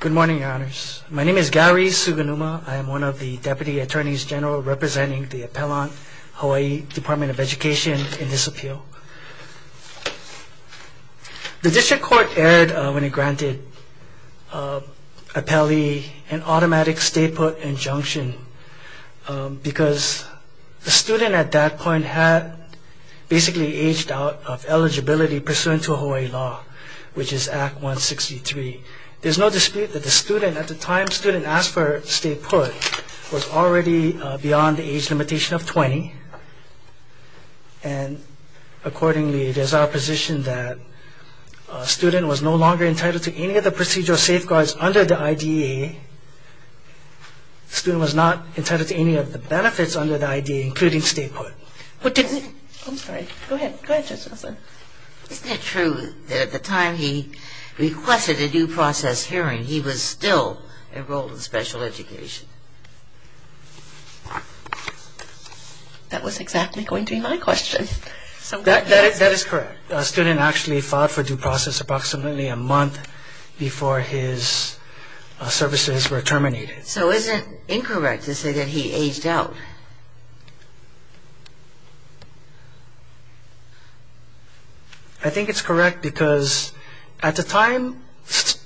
Good morning, Your Honors. My name is Gary Sugunuma. I am one of the Deputy Attorneys General representing the appellant, Hawaii Department of Education, in this appeal. The District Court erred when it granted appellee an automatic state put injunction because the student at that point had basically aged out of eligibility pursuant to Hawaii law, which is Act 163. There is no dispute that the student, at the time the student asked for a state put, was already beyond the age limitation of 20. And accordingly, it is our position that the student was no longer entitled to any of the procedural safeguards under the I.D.A. The student was not entitled to any of the benefits under the I.D.A., including state put. Isn't it true that at the time he requested a due process hearing, he was still enrolled in special education? That was exactly going to be my question. That is correct. The student actually filed for due process approximately a month before his services were terminated. So isn't it incorrect to say that he aged out? I think it's correct because at the time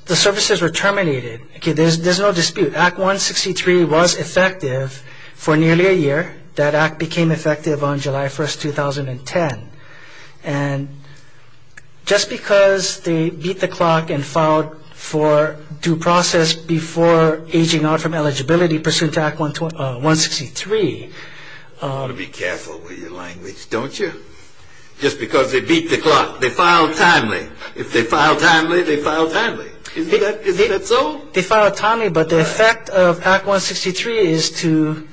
the services were terminated, there is no dispute, Act 163 was effective for nearly a year. That Act became effective on July 1, 2010. And just because they beat the clock and filed for due process before aging out from eligibility pursuant to Act 163. You've got to be careful with your language, don't you? Just because they beat the clock, they filed timely. If they filed timely, they filed timely. Isn't that so? They filed timely, but the effect of Act 163 is to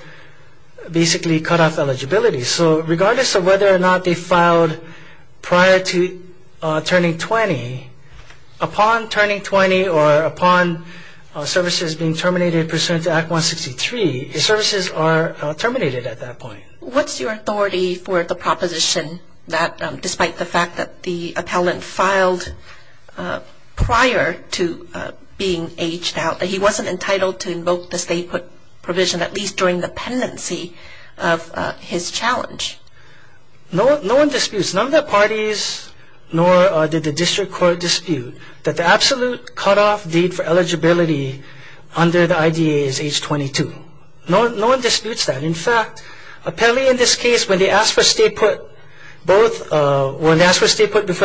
basically cut off eligibility. So regardless of whether or not they filed prior to turning 20, upon turning 20 or upon services being terminated pursuant to Act 163, the services are terminated at that point. What's your authority for the proposition that despite the fact that the appellant filed prior to being aged out, that he wasn't entitled to invoke the state put provision at least during the pendency of his challenge? No one disputes. None of the parties nor did the district court dispute that the absolute cut off date for eligibility under the IDA is age 22. No one disputes that. In fact, appellee in this case, when they ask for state put before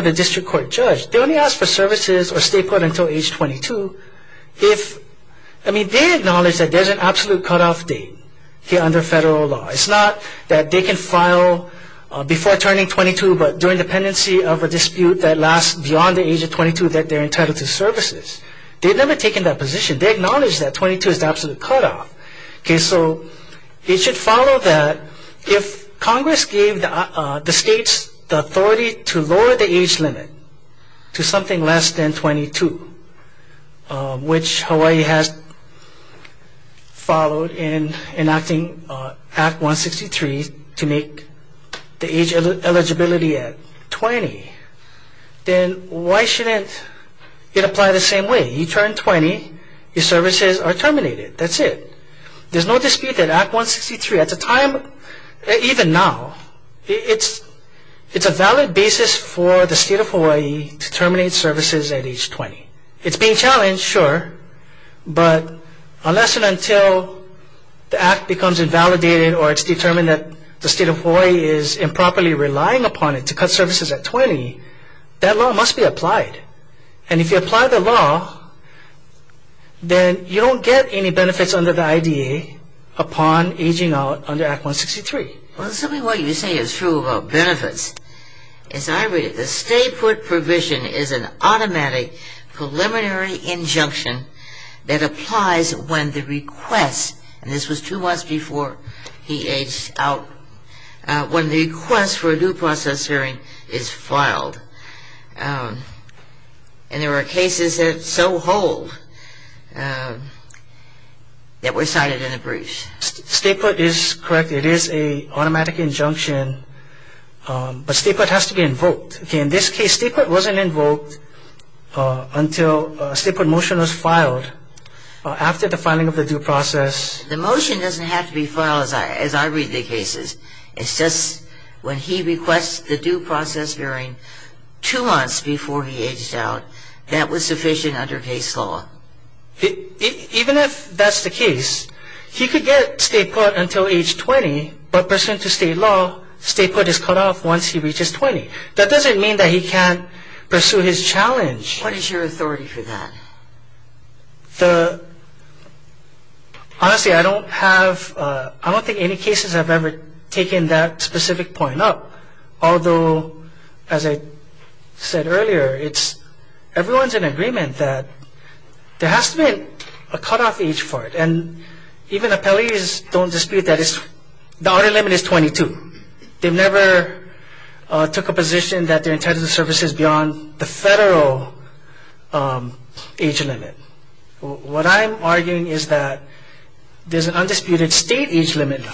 the district court judge, they only ask for services or state put until age 22 if, I mean, they acknowledge that there's an absolute cut off date under federal law. It's not that they can file before turning 22 but during the pendency of a dispute that lasts beyond the age of 22 that they're entitled to services. They've never taken that position. They acknowledge that 22 is the absolute cut off. So it should follow that if Congress gave the states the authority to lower the age limit to something less than 22, which Hawaii has followed in enacting Act 163 to make the age eligibility at 20, then why shouldn't it apply the same way? You turn 20, your services are terminated. That's it. There's no dispute that Act 163 at the time, even now, it's a valid basis for the state of Hawaii to terminate services at age 20. It's being challenged, sure, but unless and until the Act becomes invalidated or it's determined that the state of Hawaii is improperly relying upon it to cut services at 20, that law must be applied. And if you apply the law, then you don't get any benefits under the IDA upon aging out under Act 163. Well, something you say is true about benefits. As I read it, the stay put provision is an automatic preliminary injunction that applies when the request, and this was two months before he aged out, when the request for a due process hearing is filed. And there are cases that so hold that were cited in the briefs. Stay put is correct. It is an automatic injunction, but stay put has to be invoked. In this case, stay put wasn't invoked until a stay put motion was filed after the filing of the due process. The motion doesn't have to be filed as I read the cases. It's just when he requests the due process hearing two months before he aged out, that was sufficient under case law. Even if that's the case, he could get stay put until age 20, but pursuant to state law, stay put is cut off once he reaches 20. That doesn't mean that he can't pursue his challenge. What is your authority for that? Honestly, I don't think any cases have ever taken that specific point up. Although, as I said earlier, everyone's in agreement that there has to be a cut off age for it. And even appellees don't dispute that the order limit is 22. They've never took a position that they're entitled to services beyond the federal age limit. What I'm arguing is that there's an undisputed state age limit,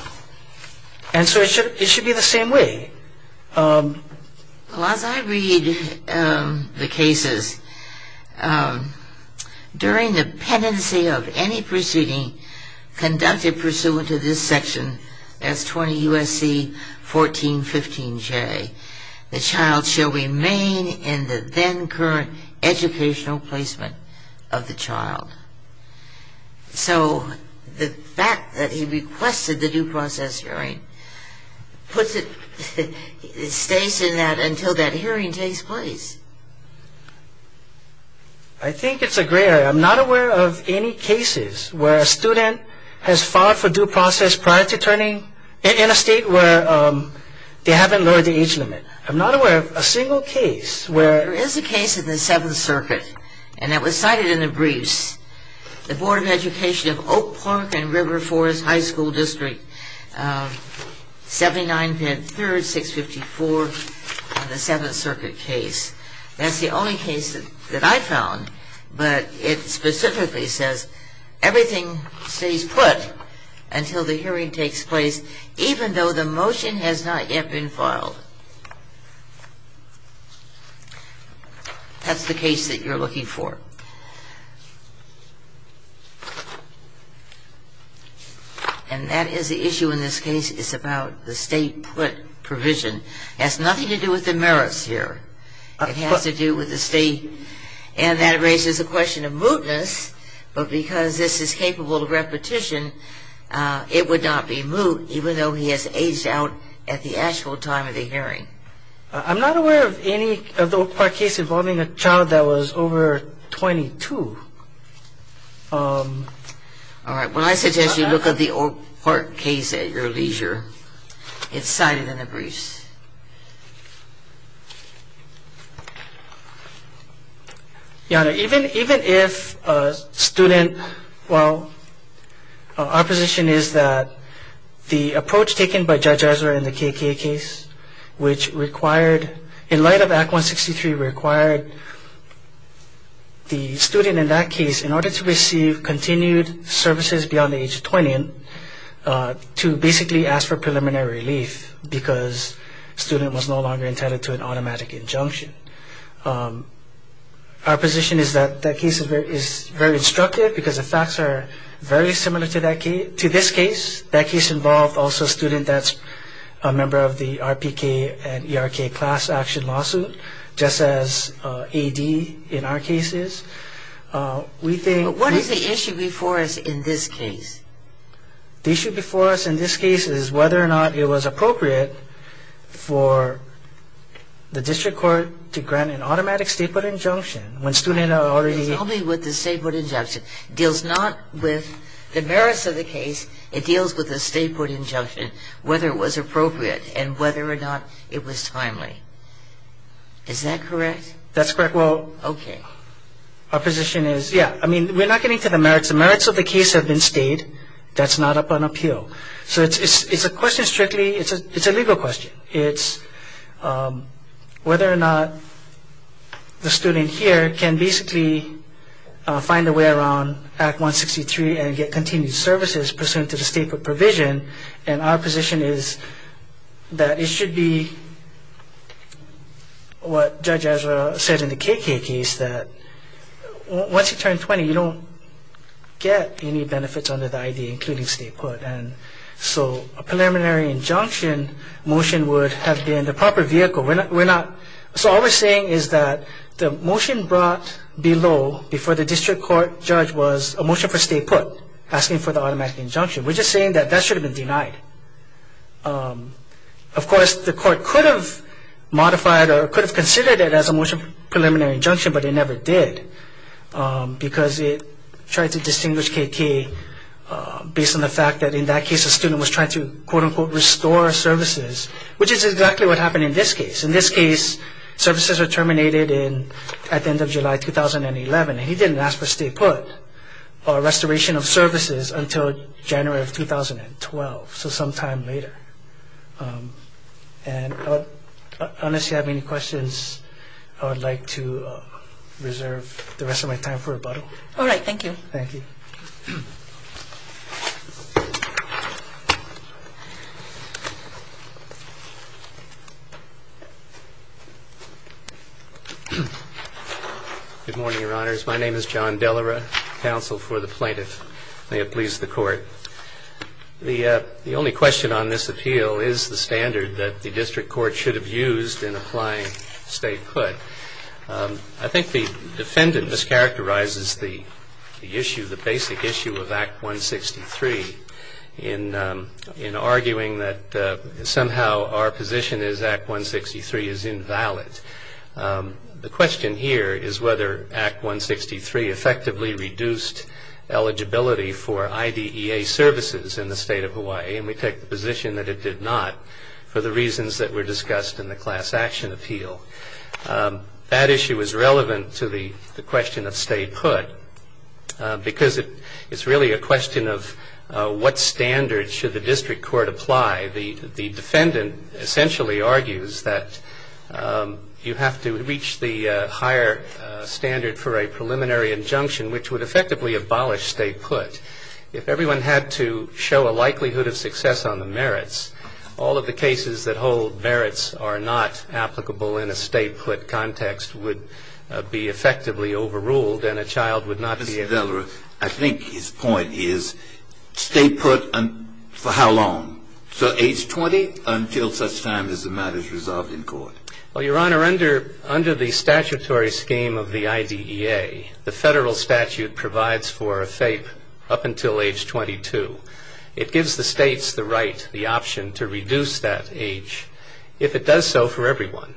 and so it should be the same way. Well, as I read the cases, during the pendency of any proceeding conducted pursuant to this section as 20 U.S.C. 1415J, the child shall remain in the then current educational placement of the child. So the fact that he requested the due process hearing puts it in a very narrow category. It stays in that until that hearing takes place. I think it's a gray area. I'm not aware of any cases where a student has filed for due process prior to turning in a state where they haven't lowered the age limit. I'm not aware of a single case where... There is a case in the Seventh Circuit, and it was cited in the briefs. The Board of Education of Oak Park and River Forest High School District, 79 Penn 3rd, 654, in the Seventh Circuit case. That's the only case that I found, but it specifically says everything stays put until the hearing takes place, even though the motion has not yet been filed. That's the case that you're looking for. And that is the issue in this case. It's about the state put provision. It has nothing to do with the merits here. It has to do with the state, and that raises the question of mootness, but because this is capable of repetition, it would not be moot, even though he has aged out at the actual time of the hearing. I'm not aware of any of the Oak Park case involving a child that was over 22. All right. Well, I suggest you look at the Oak Park case at your leisure. It's cited in the briefs. Yano, even if a student, well, our position is that the approach taken by Judge Ezra in the KK case, which required, in light of Act 163, required the student in that case, in order to receive continued services beyond the age of 20, to basically ask for preliminary relief because student was no longer intended to an automatic injunction. Our position is that that case is very instructive because the facts are very similar to this case. That case involved also a student that's a member of the RPK and ERK class action lawsuit, just as AD in our case is. We think... What is the issue before us in this case? The issue before us in this case is whether or not it was appropriate for the district court to grant an automatic state court injunction when student had already... It's only with the state court injunction. It deals not with the merits of the case. It deals with the state court injunction, whether it was appropriate and whether or not it was timely. Is that correct? That's correct. Well, our position is, yeah, I mean, we're not getting to the merits. The merits of the case are not up on appeal. That's not up on appeal. So it's a question strictly... It's a legal question. It's whether or not the student here can basically find a way around Act 163 and get continued services pursuant to the state court provision. And our position is that it should be what Judge Ezra said in the KK case, that once you turn 20, you don't get any benefits under the I.D., including state court. So a preliminary injunction motion would have been the proper vehicle. We're not... So all we're saying is that the motion brought below before the district court judge was a motion for state court asking for the automatic injunction. We're just saying that that should have been denied. Of course, the court could have modified or could have considered it as a motion for preliminary injunction, but it never did because it tried to distinguish KK based on the fact that in that case a student was trying to, quote unquote, restore services, which is exactly what happened in this case. In this case, services were terminated at the end of July 2011. He didn't ask for state court restoration of services until January of 2012, so sometime later. And unless you have any questions, I would like to reserve the rest of my time for rebuttal. All right. Thank you. Thank you. Good morning, Your Honors. My name is John Dellera, counsel for the plaintiff. May it please the Court. The only question on this appeal is the standard that the district court should have used in applying state court. I think the defendant mischaracterizes the issue, the basic issue of Act 163 in arguing that somehow our position is Act 163 is invalid. The question here is whether Act 163 effectively reduced eligibility for IDEA services in the state of Hawaii, and we take the position that it did not for the reasons that were discussed in the class action appeal. That issue is relevant to the question of statehood because it's really a question of what standard should the district court apply. The defendant essentially argues that you have to reach the higher standard for a preliminary injunction which would effectively abolish statehood. If everyone had to show a likelihood of success on the merits, all of the cases that hold merits are not applicable in a statehood context would be effectively overruled and a child would not be able to be able to receive statehood. Mr. Dellera, I think his point is, statehood for how long? So age 20 until such time as the matter is resolved in court. Well, Your Honor, under the statutory scheme of the IDEA, the federal statute provides for a FAPE up until age 22. It gives the states the right, the option to reduce that age if it does so for everyone.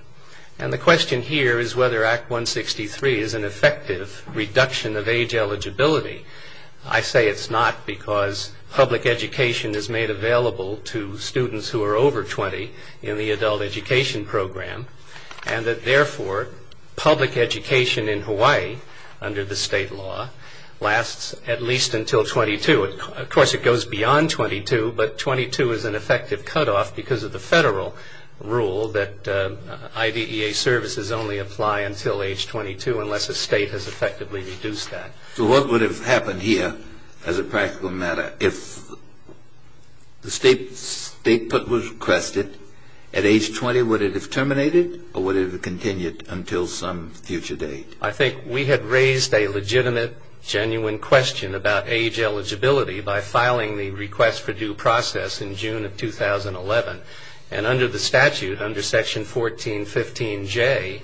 And the question here is whether Act 163 is an effective reduction of age eligibility. I say it's not because public education is made available to students who are over 20 in the adult education program and that, therefore, public education in Hawaii under the state law lasts at least until 22. Of course, it goes beyond 22, but 22 is an effective cutoff because of the federal rule that IDEA services only apply until age 22 unless a state has effectively reduced that. So what would have happened here as a practical matter if the statehood was requested at age 20? Would it have terminated or would it have continued until some future date? I think we had raised a legitimate, genuine question about age eligibility by filing the request for due process in June of 2011. And under the statute, under Section 1415J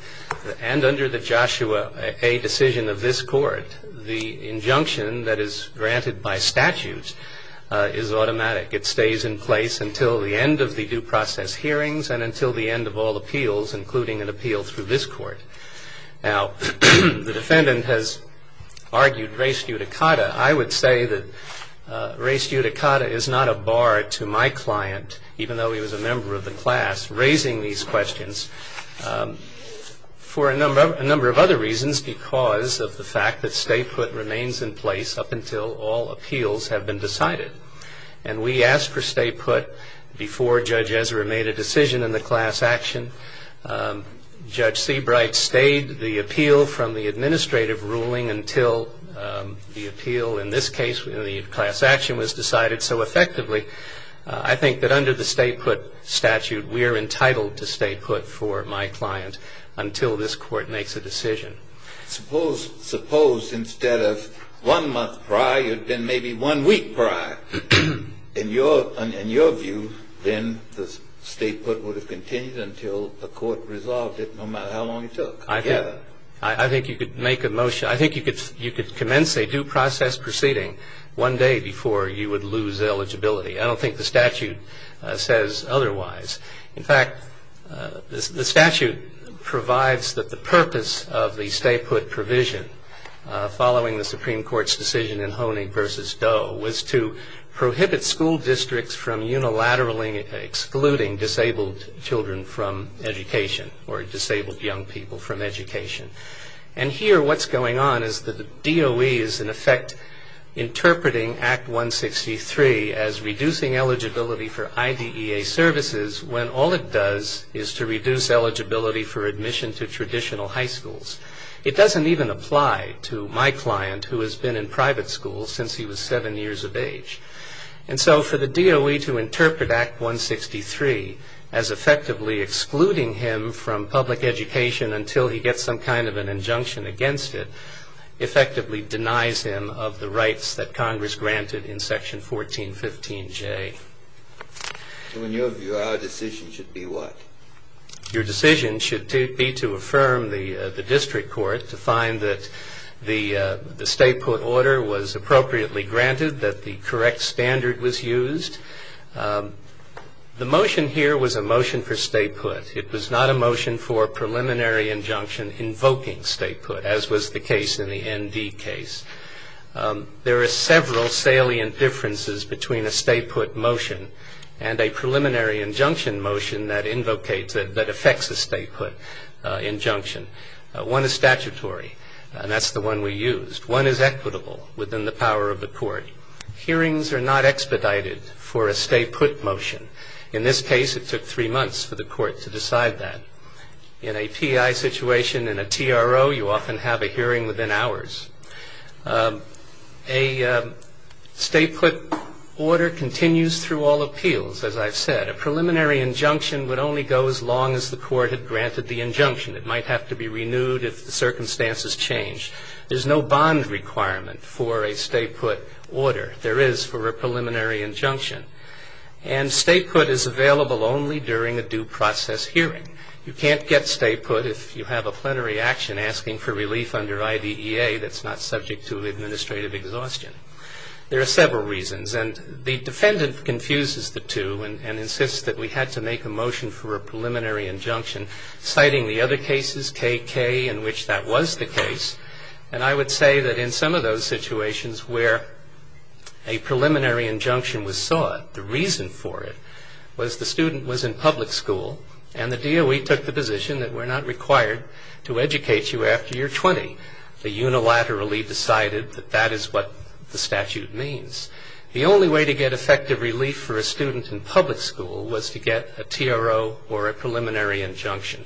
and under the Joshua A. decision of this Court, the injunction that is granted by statute is automatic. It stays in place until the end of the due process hearings and until the end of all appeals, including an appeal through this Court. Now, the defendant has argued res judicata. I would say that res judicata is not a bar to my client, even though he was a member of the class, raising these questions for a number of other reasons because of the fact that stay put remains in place up until all appeals have been decided. And we asked for stay put before Judge Ezra made a decision in the class action. Judge Seabright stayed the appeal from the administrative ruling until the appeal, in this case, the class action was decided so effectively. I think that under the stay put statute, we are entitled to stay put for my client until this Court makes a decision. Suppose instead of one month prior, it had been maybe one week prior. In your view, then the stay put would have continued until the Court resolved it, no matter how long it took? I think you could make a motion. I think you could commence a due process proceeding one day before you would lose eligibility. I don't think the statute says otherwise. In fact, the statute provides that the purpose of the stay put provision following the Supreme Court's decision in Honig v. Doe was to prohibit school districts from unilaterally excluding disabled children from education or disabled young people from education. And here what's going on is that the DOE is in effect interpreting Act 163 as reducing eligibility for IDEA services when all it does is to reduce eligibility for admission to traditional high schools. It doesn't even apply to my client who has been in private school since he was seven years of age. And so for the DOE to interpret Act 163 as effectively excluding him from public education until he gets some kind of an injunction against it effectively denies him of the rights that Congress granted in Section 1415J. So in your view, our decision should be what? Your decision should be to affirm the district court to find that the stay put order was valid, that the correct standard was used. The motion here was a motion for stay put. It was not a motion for a preliminary injunction invoking stay put, as was the case in the ND case. There are several salient differences between a stay put motion and a preliminary injunction motion that invocates, that affects a stay put injunction. One is statutory, and that's the one we used. One is equitable within the power of the court. Hearings are not expedited for a stay put motion. In this case, it took three months for the court to decide that. In a PI situation, in a TRO, you often have a hearing within hours. A stay put order continues through all appeals, as I've said. A preliminary injunction would only go as long as the court had granted the injunction. It might have to be renewed if the circumstances change. There's no bond requirement for a stay put order. There is for a preliminary injunction. And stay put is available only during a due process hearing. You can't get stay put if you have a plenary action asking for relief under IDEA that's not subject to administrative exhaustion. There are several reasons, and the defendant confuses the two and insists that we had to make a motion for a preliminary injunction citing the other cases, KK, in which that was the case. And I would say that in some of those situations where a preliminary injunction was sought, the reason for it was the student was in public school, and the DOE took the position that we're not required to educate you after you're 20. They unilaterally decided that that is what the statute means. The only way to get effective relief for a student in public school was to get a TRO or a preliminary injunction.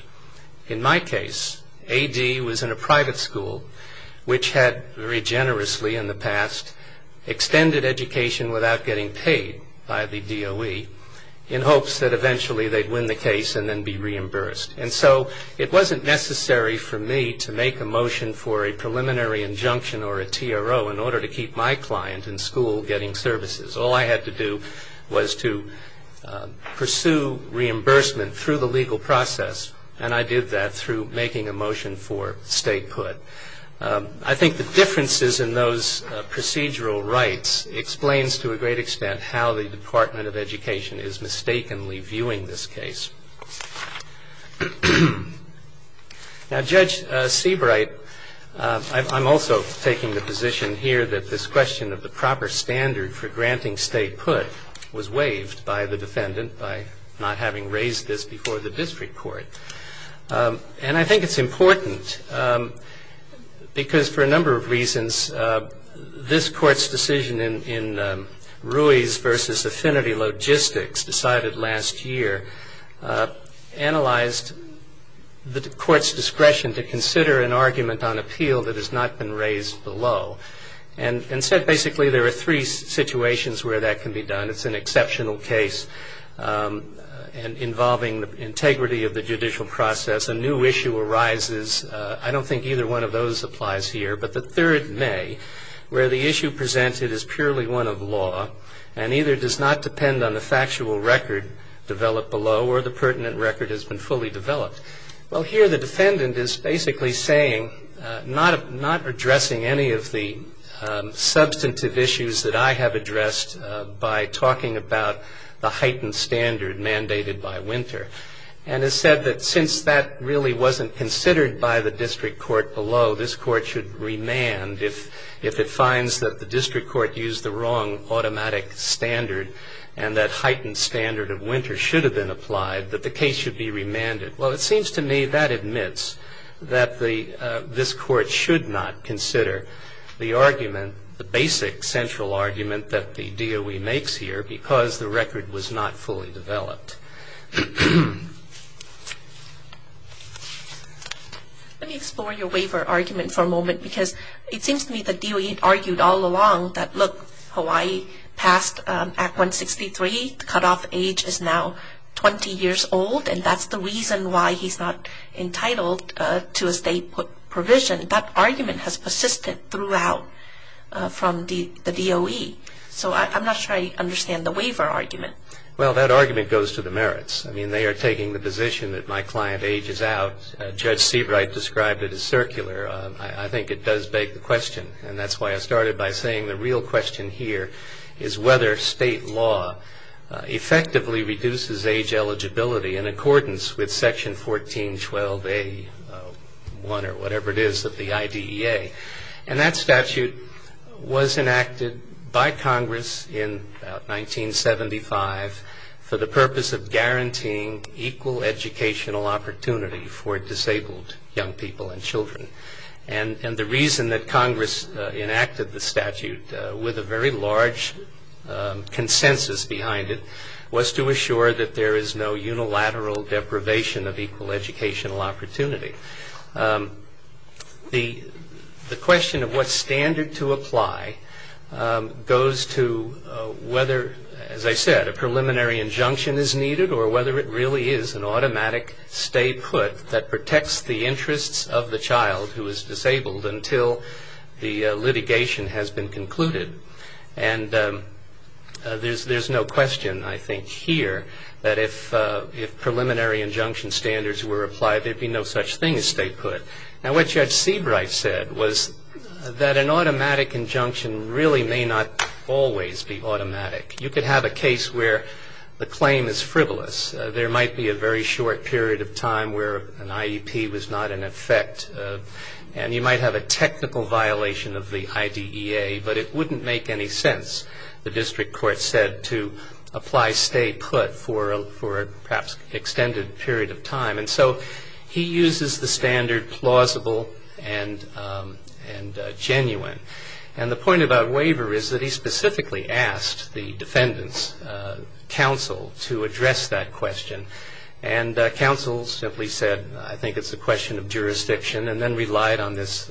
In my case, AD was in a private school which had very generously in the past extended education without getting paid by the DOE in hopes that eventually they'd win the case and then be reimbursed. And so it wasn't necessary for me to make a motion for a preliminary injunction or a TRO in order to keep my client in school getting services. All I had to do was to pursue reimbursement through the legal process, and I did that through making a motion for stay put. I think the differences in those procedural rights explains to a great extent how the Department of Education is mistakenly viewing this case. Now Judge Seabright, I'm also taking the position here that this question of the proper standard for granting stay put was waived by the defendant by not having raised this before the district court. And I think it's important because for a number of reasons this court's decision in Ruiz v. Affinity Logistics decided last year analyzed the court's discretion to consider an argument on appeal that has not been raised below. And said basically there are three situations where that can be done. It's an exceptional case involving the integrity of the judicial process. A new issue arises. I don't think either one of those applies here. But the third may, where the issue presented is purely one of law and either does not depend on the factual record developed below or the pertinent record has been fully developed. Well here the defendant is basically saying, not addressing any of the substantive issues that I have addressed by talking about the heightened standard mandated by Winter. And has said that since that really wasn't considered by the district court below, this court should remand if it finds that the district court used the wrong automatic standard and that heightened standard of Winter should have been applied, that the case should be remanded. Well it seems to me that admits that this court should not consider the argument, the basic central argument that the DOE makes here because the record was not fully developed. Let me explore your waiver argument for a moment because it seems to me the DOE argued all along that look, Hawaii passed Act 163, the cutoff age is now 20 years old and that's the reason why he's not entitled to a state provision. That argument has persisted throughout from the DOE. So I'm not sure I understand the waiver argument. Well that argument goes to the merits. I mean they are taking the position that my client ages out. Judge Seabright described it as circular. I think it does beg the question and that's why I started by saying the real question here is whether state law effectively reduces age eligibility in accordance with section 1412A1 or whatever it is of the IDEA. And that statute was enacted by Congress in 1975 for the purpose of guaranteeing equal educational opportunity for disabled young people and children. And the reason that Congress enacted the statute with a very large consensus behind it was to assure that there is no unilateral deprivation of equal educational opportunity. The question of what standard to apply goes to whether, as I said, a preliminary injunction is needed or whether it really is an automatic statehood that protects the interests of the child who is disabled until the litigation has been concluded. And there's no question I think here that if preliminary injunction standards were applied there would be no such thing as statehood. Now what Judge Seabright said was that an automatic injunction really may not always be automatic. You could have a case where the claim is frivolous. There might be a very short period of time where an IEP was not in effect and you might have a technical violation of the IDEA but it wouldn't make any sense, the district court said, to apply statehood for a perhaps extended period of time. And so he uses the standard plausible and genuine. And the point about waiver is that he specifically asked the defendant's counsel to address that question. And counsel simply said, I think it's a question of jurisdiction and then relied on this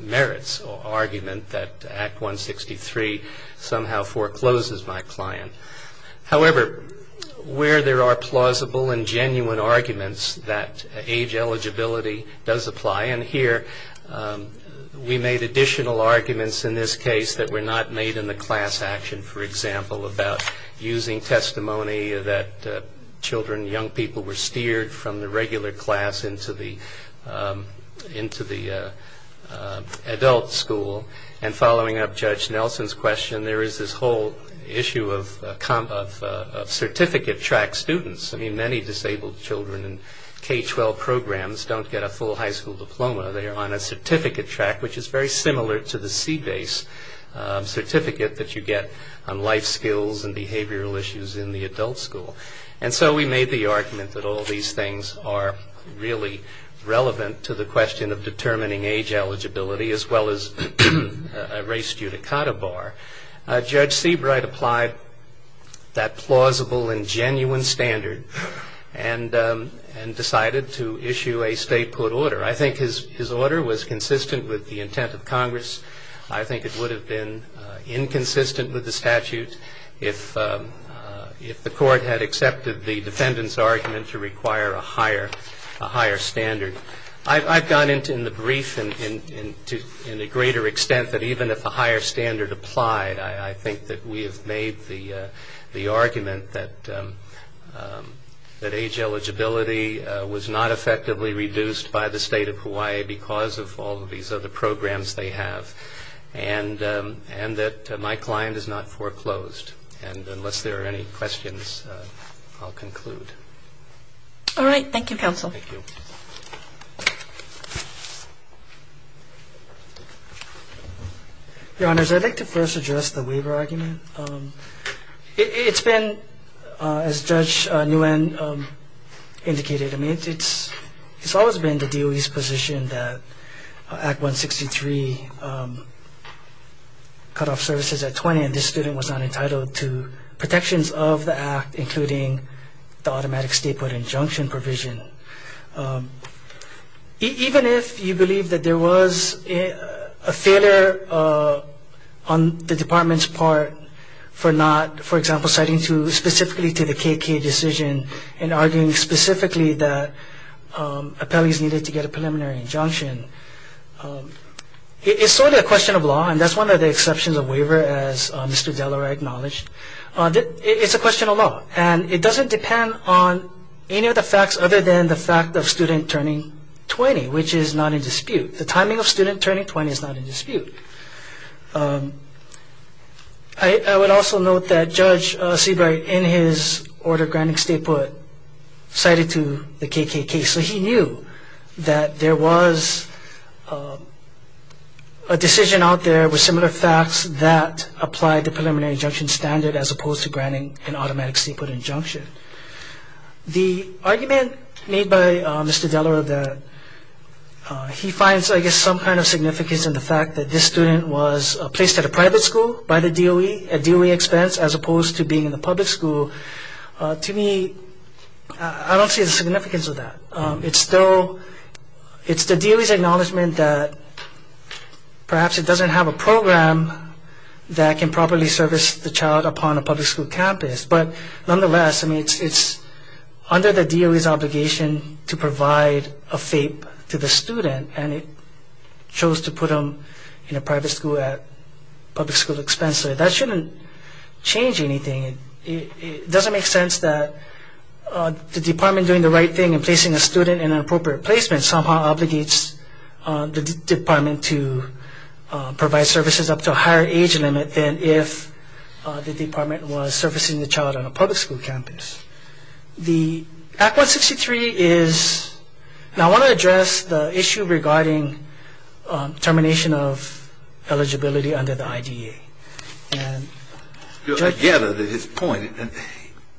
merits argument that Act 163 somehow forecloses my client. However, where there are plausible and genuine arguments that age eligibility does apply, and here we made additional arguments in this case that were not made in the class action, for example, about using testimony that children, young people were steered from the regular class into the, into the adult school. And following up Judge Nelson's question, there is this whole issue of certificate track students. I mean, many disabled children in K-12 programs don't get a full high school diploma. They are on a certificate track which is very similar to the C-base certificate that you get on life skills and behavioral issues in the adult school. And so we made the argument that all these things are really relevant to the question of determining age eligibility as well as a race judicata bar. Judge Seabright applied that plausible and genuine standard and decided to issue a state court order. I think his order was consistent with the intent of Congress. I think it would have been inconsistent with the statute if the court had accepted the defendant's request. I've gone into in the brief to a greater extent that even if a higher standard applied, I think that we have made the argument that age eligibility was not effectively reduced by the state of Hawaii because of all of these other programs they have, and that my client is not foreclosed. And unless there are any questions, I'll conclude. All right. Thank you, counsel. Thank you. Your Honors, I'd like to first address the waiver argument. It's been, as Judge Nguyen indicated, it's always been the DOE's position that Act 163 cut off services at 20, and this is true for all sections of the Act, including the automatic state court injunction provision. Even if you believe that there was a failure on the Department's part for not, for example, citing specifically to the KK decision and arguing specifically that appellees needed to get a preliminary injunction, it's sort of a question of law, and that's one of the exceptions of waiver, as Mr. Delaware acknowledged. It's a question of law, and it doesn't depend on any of the facts other than the fact of student turning 20, which is not in dispute. The timing of student turning 20 is not in dispute. I would also note that Judge Seabright, in his order granting statehood, cited to the applied the preliminary injunction standard as opposed to granting an automatic state court injunction. The argument made by Mr. Delaware that he finds, I guess, some kind of significance in the fact that this student was placed at a private school by the DOE at DOE expense as opposed to being in the public school, to me, I don't see the significance of that. It's the DOE's acknowledgment that perhaps it doesn't have a program that can properly service the child upon a public school campus, but nonetheless, I mean, it's under the DOE's obligation to provide a FAPE to the student, and it chose to put him in a private school at public school expense, so that shouldn't change anything. It doesn't make sense that the department doing the right thing in placing a student in an appropriate placement somehow obligates the department to provide services up to a higher age limit than if the department was servicing the child on a public school campus. The Act 163 is, and I want to address the issue regarding termination of eligibility under the DOE,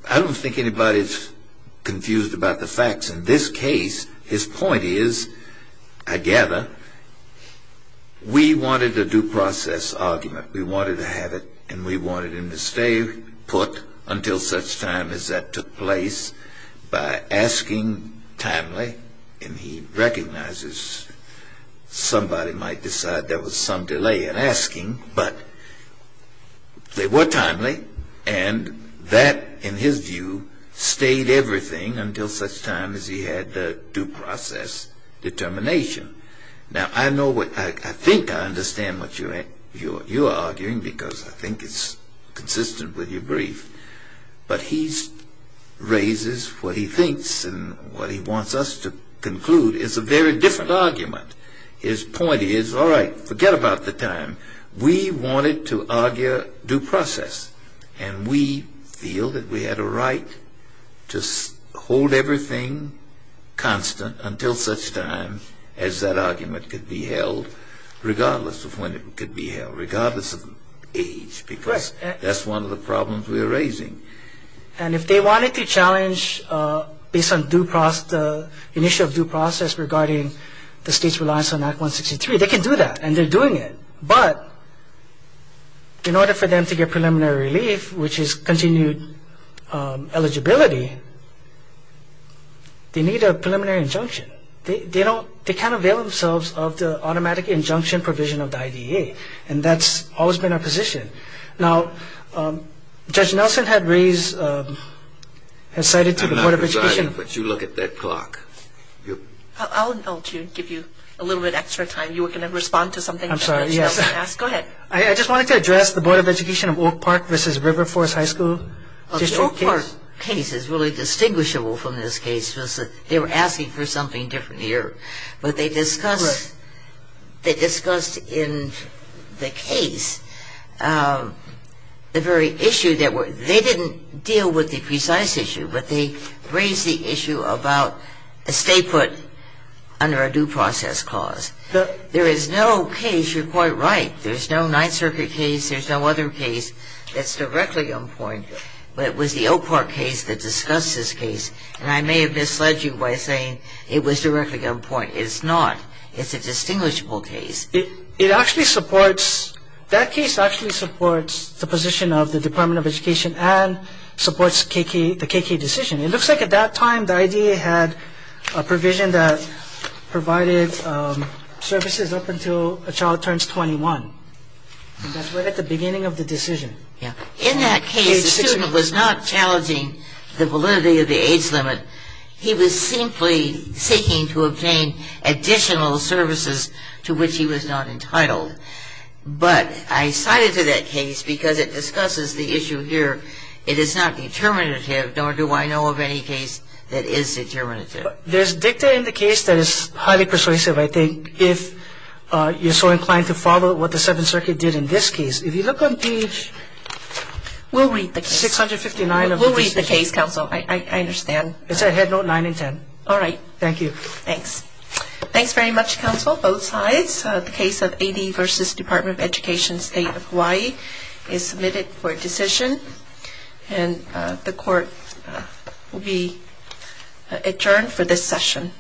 I don't think anybody's confused about the facts in this case. His point is, I gather, we wanted a due process argument. We wanted to have it, and we wanted him to stay put until such time as that took place by asking timely, and he recognizes somebody might decide there was some delay in asking, but they were timely, and that, in his view, stayed everything until such time as he had the due process determination. Now, I think I understand what you're arguing, because I think it's consistent with your brief, but he raises what he thinks and what he wants us to conclude. It's a very different argument. His point is, all right, forget about the time. We wanted to argue due process, and we feel that we had a right to hold everything constant until such time as that argument could be held, regardless of when it could be held, regardless of age, because that's one of the problems we are raising. And if they wanted to challenge based on initial due process regarding the state's reliance on Act 163, they can do that, and they're doing it, but in order for them to get preliminary relief, which is continued eligibility, they need a preliminary injunction. They can't avail themselves of the automatic injunction provision of the IDEA, and that's always been our position. And I think that's what we're trying to do. I'm not presiding, but you look at that clock. I'll give you a little bit extra time. You were going to respond to something. I just wanted to address the Board of Education of Oak Park v. River Forest High School. The Oak Park case is really distinguishable from this case because they were asking for something different here. But they discussed in the case the very issue that they didn't deal with the precise issue, but they raised the issue about a stay put under a due process clause. There is no case, you're quite right, there's no Ninth Circuit case, there's no other case that's directly on point that was the Oak Park case that discussed this case. And I may have misled you by saying it was directly on point. It's not. It's a distinguishable case. That case actually supports the position of the Department of Education and supports the KK decision. It looks like at that time the IDEA had a provision that provided services up until a child turns 21. And that's right at the beginning of the decision. In that case, the student was not challenging the validity of the age limit. He was simply seeking to obtain additional services to which he was not entitled. But I cited to that case because it discusses the issue here. It is not determinative, nor do I know of any case that is determinative. There's dicta in the case that is highly persuasive, I think, if you're so inclined to follow what the Seventh Circuit did in this case. If you look on page 659. We'll read the case, Counsel. I understand. Thanks very much, Counsel, both sides. The case of AD v. Department of Education, State of Hawaii is submitted for decision. And the Court will be adjourned for this session.